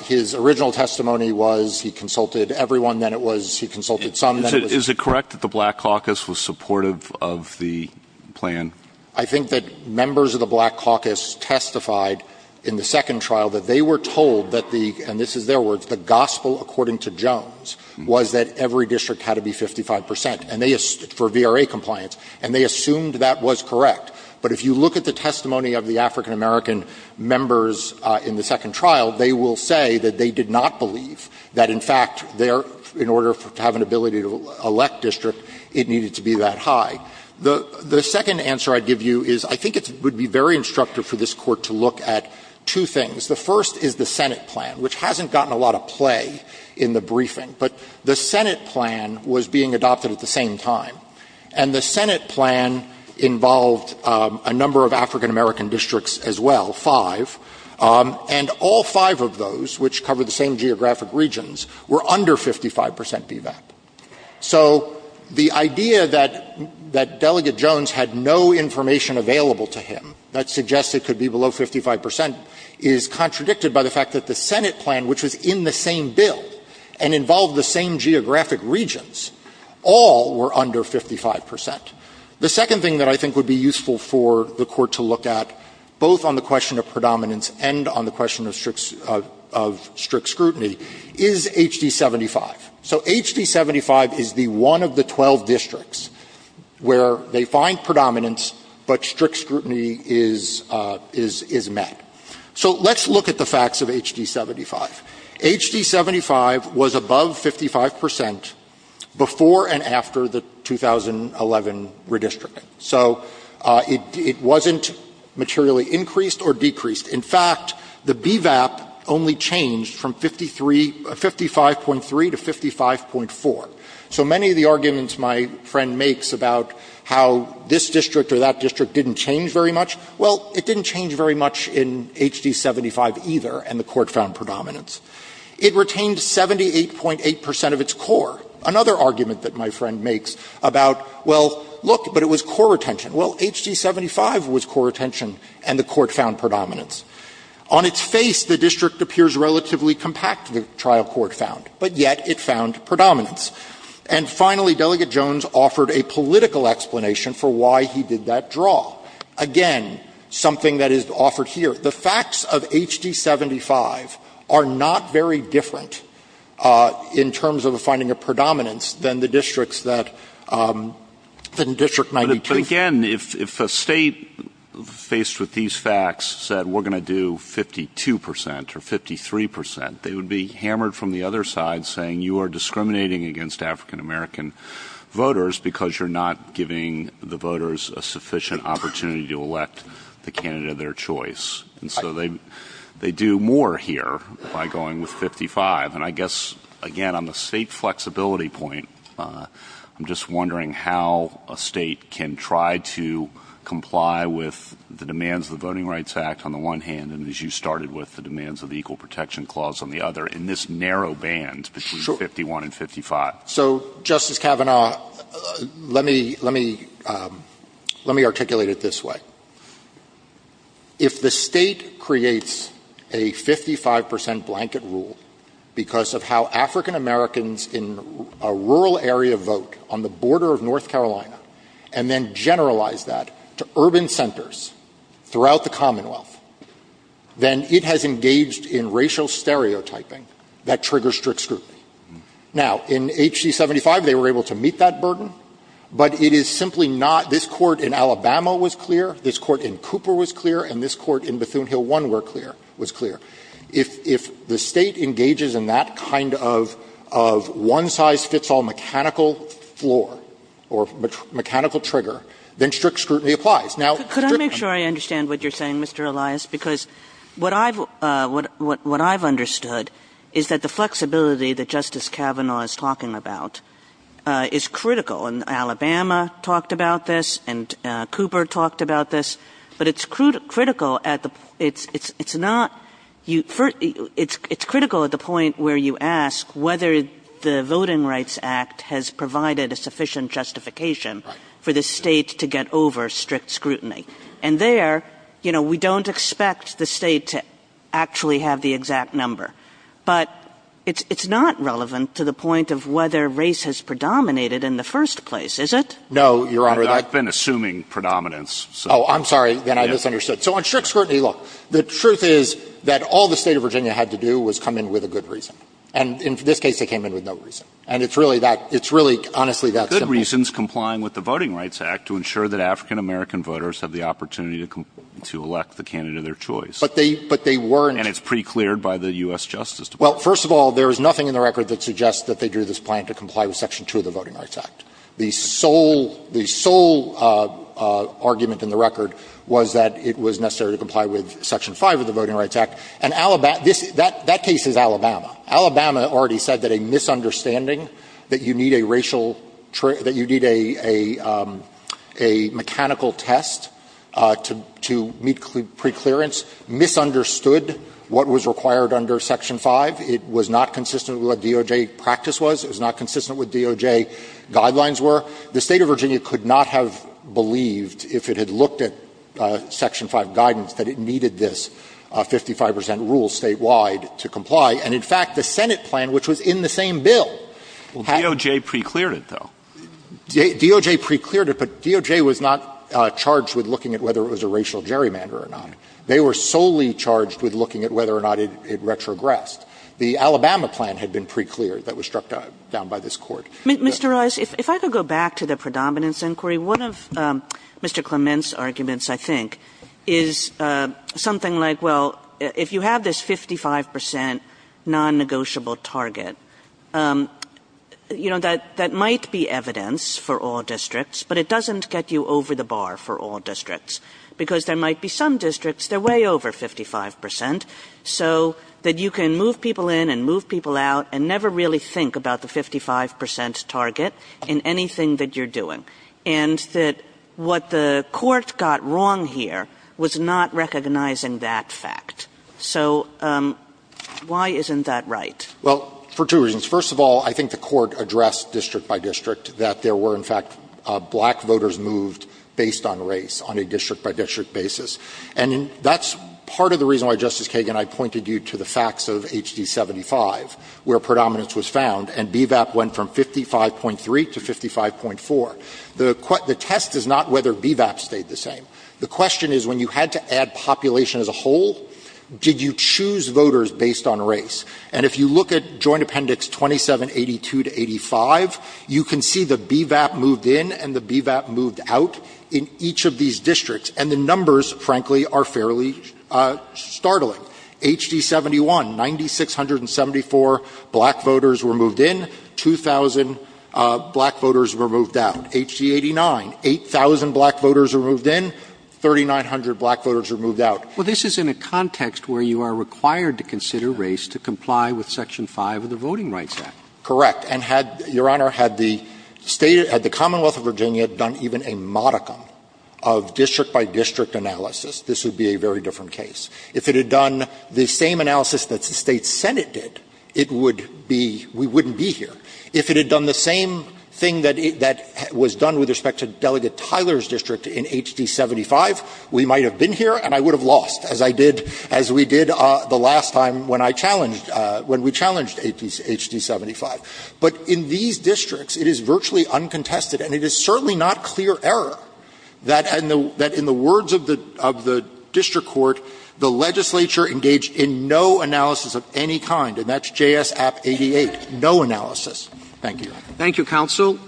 His original testimony was he consulted everyone, then it was he consulted some, then it was – Is it correct that the Black Caucus was supportive of the plan? I think that members of the Black Caucus testified in the second trial that they were told that the – and this is their words – the gospel according to Jones was that every district had to be 55 percent, and they – for VRA compliance, and they assumed that was correct. But if you look at the testimony of the African-American members in the second trial, they will say that they did not believe that, in fact, their – in order to have an ability to elect district, it needed to be that high. The second answer I'd give you is I think it would be very instructive for this Court to look at two things. The first is the Senate plan, which hasn't gotten a lot of play in the briefing. But the Senate plan was being adopted at the same time, and the Senate plan involved a number of African-American districts as well, five, and all five of those, which cover the same geographic regions, were under 55 percent BVAP. So the idea that – that Delegate Jones had no information available to him that suggests it could be below 55 percent is contradicted by the fact that the Senate plan, which was in the same bill and involved the same geographic regions, all were under 55 percent. The second thing that I think would be useful for the Court to look at, both on the question of predominance and on the question of strict scrutiny, is HD-75. So HD-75 is the one of the 12 districts where they find predominance, but strict scrutiny is met. So let's look at the facts of HD-75. HD-75 was above 55 percent before and after the 2011 redistricting. So it wasn't materially increased or decreased. In fact, the BVAP only changed from 53 – 55.3 to 55.4. So many of the arguments my friend makes about how this district or that district didn't change very much, well, it didn't change very much in HD-75 either, and the Court found predominance. It retained 78.8 percent of its core. Another argument that my friend makes about, well, look, but it was core retention. Well, HD-75 was core retention, and the Court found predominance. On its face, the district appears relatively compact, the trial court found, but yet it found predominance. And finally, Delegate Jones offered a political explanation for why he did that draw. Again, something that is offered here. The facts of HD-75 are not very different in terms of finding a predominance than the districts that the district might be too. But again, if a State faced with these facts said we're going to do 52 percent or 53 percent, they would be hammered from the other side saying you are discriminating against African-American voters because you're not giving the voters a sufficient opportunity to elect the candidate of their choice. And so they do more here by going with 55. And I guess, again, on the State flexibility point, I'm just wondering how a State can try to comply with the demands of the Voting Rights Act on the one hand, and as you started with the demands of the Equal Protection Clause on the other. In this narrow band between 51 and 55. So, Justice Kavanaugh, let me articulate it this way. If the State creates a 55 percent blanket rule because of how African-Americans in a rural area vote on the border of North Carolina and then generalize that to urban that triggers strict scrutiny. Now, in H.C. 75, they were able to meet that burden, but it is simply not this Court in Alabama was clear, this Court in Cooper was clear, and this Court in Bethune-Hill 1 were clear, was clear. If the State engages in that kind of one-size-fits-all mechanical floor or mechanical trigger, then strict scrutiny applies. Now, strict scrutiny. I understand what you're saying, Mr. Elias, because what I've understood is that the flexibility that Justice Kavanaugh is talking about is critical, and Alabama talked about this, and Cooper talked about this, but it's critical at the point where you ask whether the Voting Rights Act has provided a sufficient justification for the State to get over strict scrutiny. And there, you know, we don't expect the State to actually have the exact number. But it's not relevant to the point of whether race has predominated in the first place, is it? Elias, I've been assuming predominance. Oh, I'm sorry, then I misunderstood. So on strict scrutiny, look, the truth is that all the State of Virginia had to do was come in with a good reason. And in this case, they came in with no reason. And it's really that – it's really, honestly, that simple. Good reasons complying with the Voting Rights Act to ensure that African-American voters have the opportunity to elect the candidate of their choice. But they weren't – And it's pre-cleared by the U.S. Justice Department. Well, first of all, there is nothing in the record that suggests that they drew this plan to comply with Section 2 of the Voting Rights Act. The sole argument in the record was that it was necessary to comply with Section 5 of the Voting Rights Act, and Alabama – that case is Alabama. Alabama already said that a misunderstanding, that you need a racial – that you need a – a mechanical test to meet pre-clearance, misunderstood what was required under Section 5, it was not consistent with what DOJ practice was, it was not consistent with DOJ guidelines were. The State of Virginia could not have believed, if it had looked at Section 5 guidance, that it needed this 55 percent rule statewide to comply. And in fact, the Senate plan, which was in the same bill, had – Well, DOJ pre-cleared it, though. DOJ pre-cleared it, but DOJ was not charged with looking at whether it was a racial gerrymander or not. They were solely charged with looking at whether or not it retrogressed. The Alabama plan had been pre-cleared. That was struck down by this Court. Mr. Rice, if I could go back to the predominance inquiry, one of Mr. Clement's arguments, I think, is something like, well, if you have this 55 percent non-negotiable target, you know, that might be evidence for all districts, but it doesn't get you over the bar for all districts, because there might be some districts, they're way over 55 percent, so that you can move people in and move people out and never really think about the 55 percent target in anything that you're doing. And that what the Court got wrong here was not recognizing that fact. So why isn't that right? Well, for two reasons. First of all, I think the Court addressed district by district that there were, in fact, black voters moved based on race on a district-by-district basis. And that's part of the reason why, Justice Kagan, I pointed you to the facts of HD-75, where predominance was found and BVAP went from 55.3 to 55.4. The test is not whether BVAP stayed the same. The question is when you had to add population as a whole, did you choose voters based on race? And if you look at Joint Appendix 2782 to 85, you can see the BVAP moved in and the BVAP moved out in each of these districts. And the numbers, frankly, are fairly startling. HD-71, 9,674 black voters were moved in, 2,000 black voters were moved out. HD-89, 8,000 black voters were moved in, 3,900 black voters were moved out. Roberts Well, this is in a context where you are required to consider race to comply with Section 5 of the Voting Rights Act. Verrilli, Jr., Correct. And had, Your Honor, had the State, had the Commonwealth of Virginia done even a modicum of district-by-district analysis, this would be a very different case. If it had done the same analysis that the State Senate did, it would be we wouldn't be here. If it had done the same thing that was done with respect to Delegate Tyler's district in HD-75, we might have been here, and I would have lost, as I did, as we did the last time when I challenged, when we challenged HD-75. But in these districts, it is virtually uncontested, and it is certainly not clear error that in the words of the district court, the legislature engaged in no analysis of any kind, and that's JS App 88, no analysis. Thank you, Your Honor. Roberts Thank you, counsel.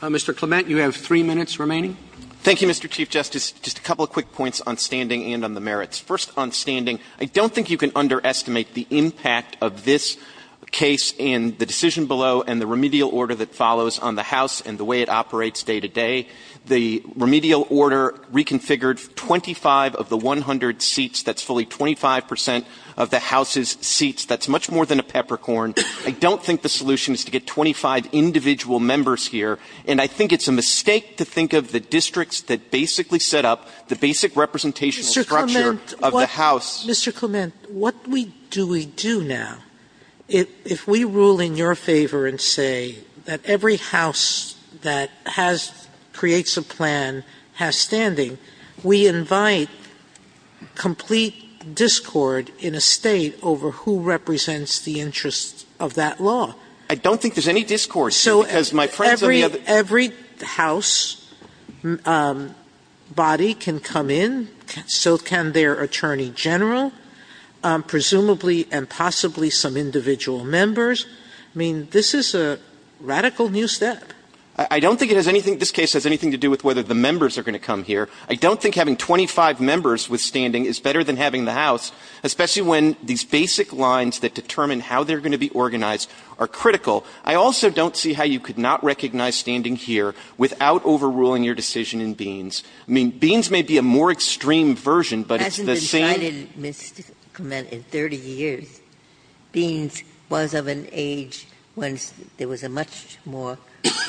Mr. Clement, you have three minutes remaining. Clement Thank you, Mr. Chief Justice. Just a couple of quick points on standing and on the merits. First, on standing, I don't think you can underestimate the impact of this case and the decision below and the remedial order that follows on the House and the way it operates day to day. The remedial order reconfigured 25 of the 100 seats that's fully 25 percent of the House's seats. That's much more than a peppercorn. I don't think the solution is to get 25 individual members here, and I think it's a mistake to think of the districts that basically set up the basic representational structure of the House. Sotomayor Mr. Clement, what do we do now? If we rule in your favor and say that every house that has or creates a plan has standing, we invite complete discord in a State over who represents the interests of that law. Clement I don't think there's any discord, because my friends of the other district, every house body can come in, so can their attorney general, presumably and possibly some individual members. I mean, this is a radical new step. Clement I don't think it has anything, this case has anything to do with whether the members are going to come here. I don't think having 25 members with standing is better than having the House, especially when these basic lines that determine how they're going to be organized are critical. I also don't see how you could not recognize standing here without overruling your decision in Beans. I mean, Beans may be a more extreme version, but it's the same as the other district. Ginsburg It hasn't been cited, Mr. Clement, in 30 years. Beans was of an age when there was a much more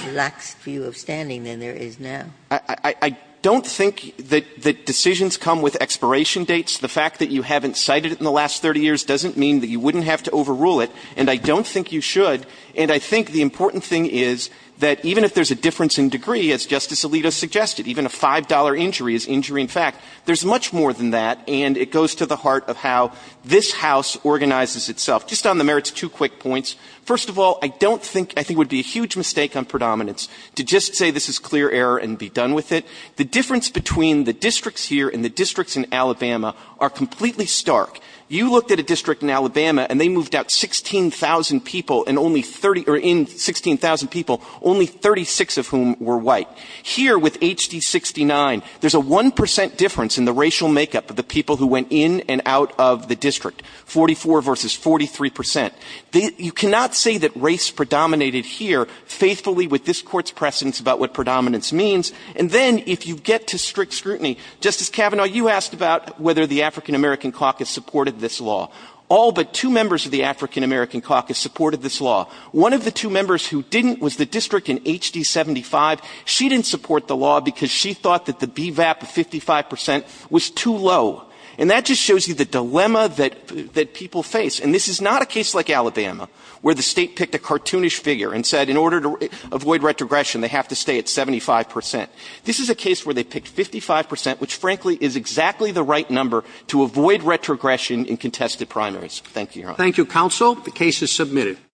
relaxed view of standing than there is now. Clement I don't think that decisions come with expiration dates. The fact that you haven't cited it in the last 30 years doesn't mean that you wouldn't have to overrule it, and I don't think you should. And I think the important thing is that even if there's a difference in degree, as Justice Alito suggested, even a $5 injury is injury. In fact, there's much more than that, and it goes to the heart of how this House organizes itself. Just on the merits, two quick points. First of all, I don't think, I think it would be a huge mistake on predominance to just say this is clear error and be done with it. The difference between the districts here and the districts in Alabama are completely stark. You looked at a district in Alabama, and they moved out 16,000 people, and only 30, or in 16,000 people, only 36 of whom were white. Here, with HD69, there's a 1 percent difference in the racial makeup of the people who went in and out of the district, 44 versus 43 percent. You cannot say that race predominated here faithfully with this Court's precedence about what predominance means. And then, if you get to strict scrutiny, Justice Kavanaugh, you asked about whether the African-American caucus supported this law. All but two members of the African-American caucus supported this law. One of the two members who didn't was the district in HD75. She didn't support the law because she thought that the BVAP of 55 percent was too low. And that just shows you the dilemma that people face. And this is not a case like Alabama, where the state picked a cartoonish figure and said, in order to avoid retrogression, they have to stay at 75 percent. This is a case where they picked 55 percent, which, frankly, is exactly the right number to avoid retrogression in contested primaries. Thank you, Your Honor. Roberts. Thank you, counsel.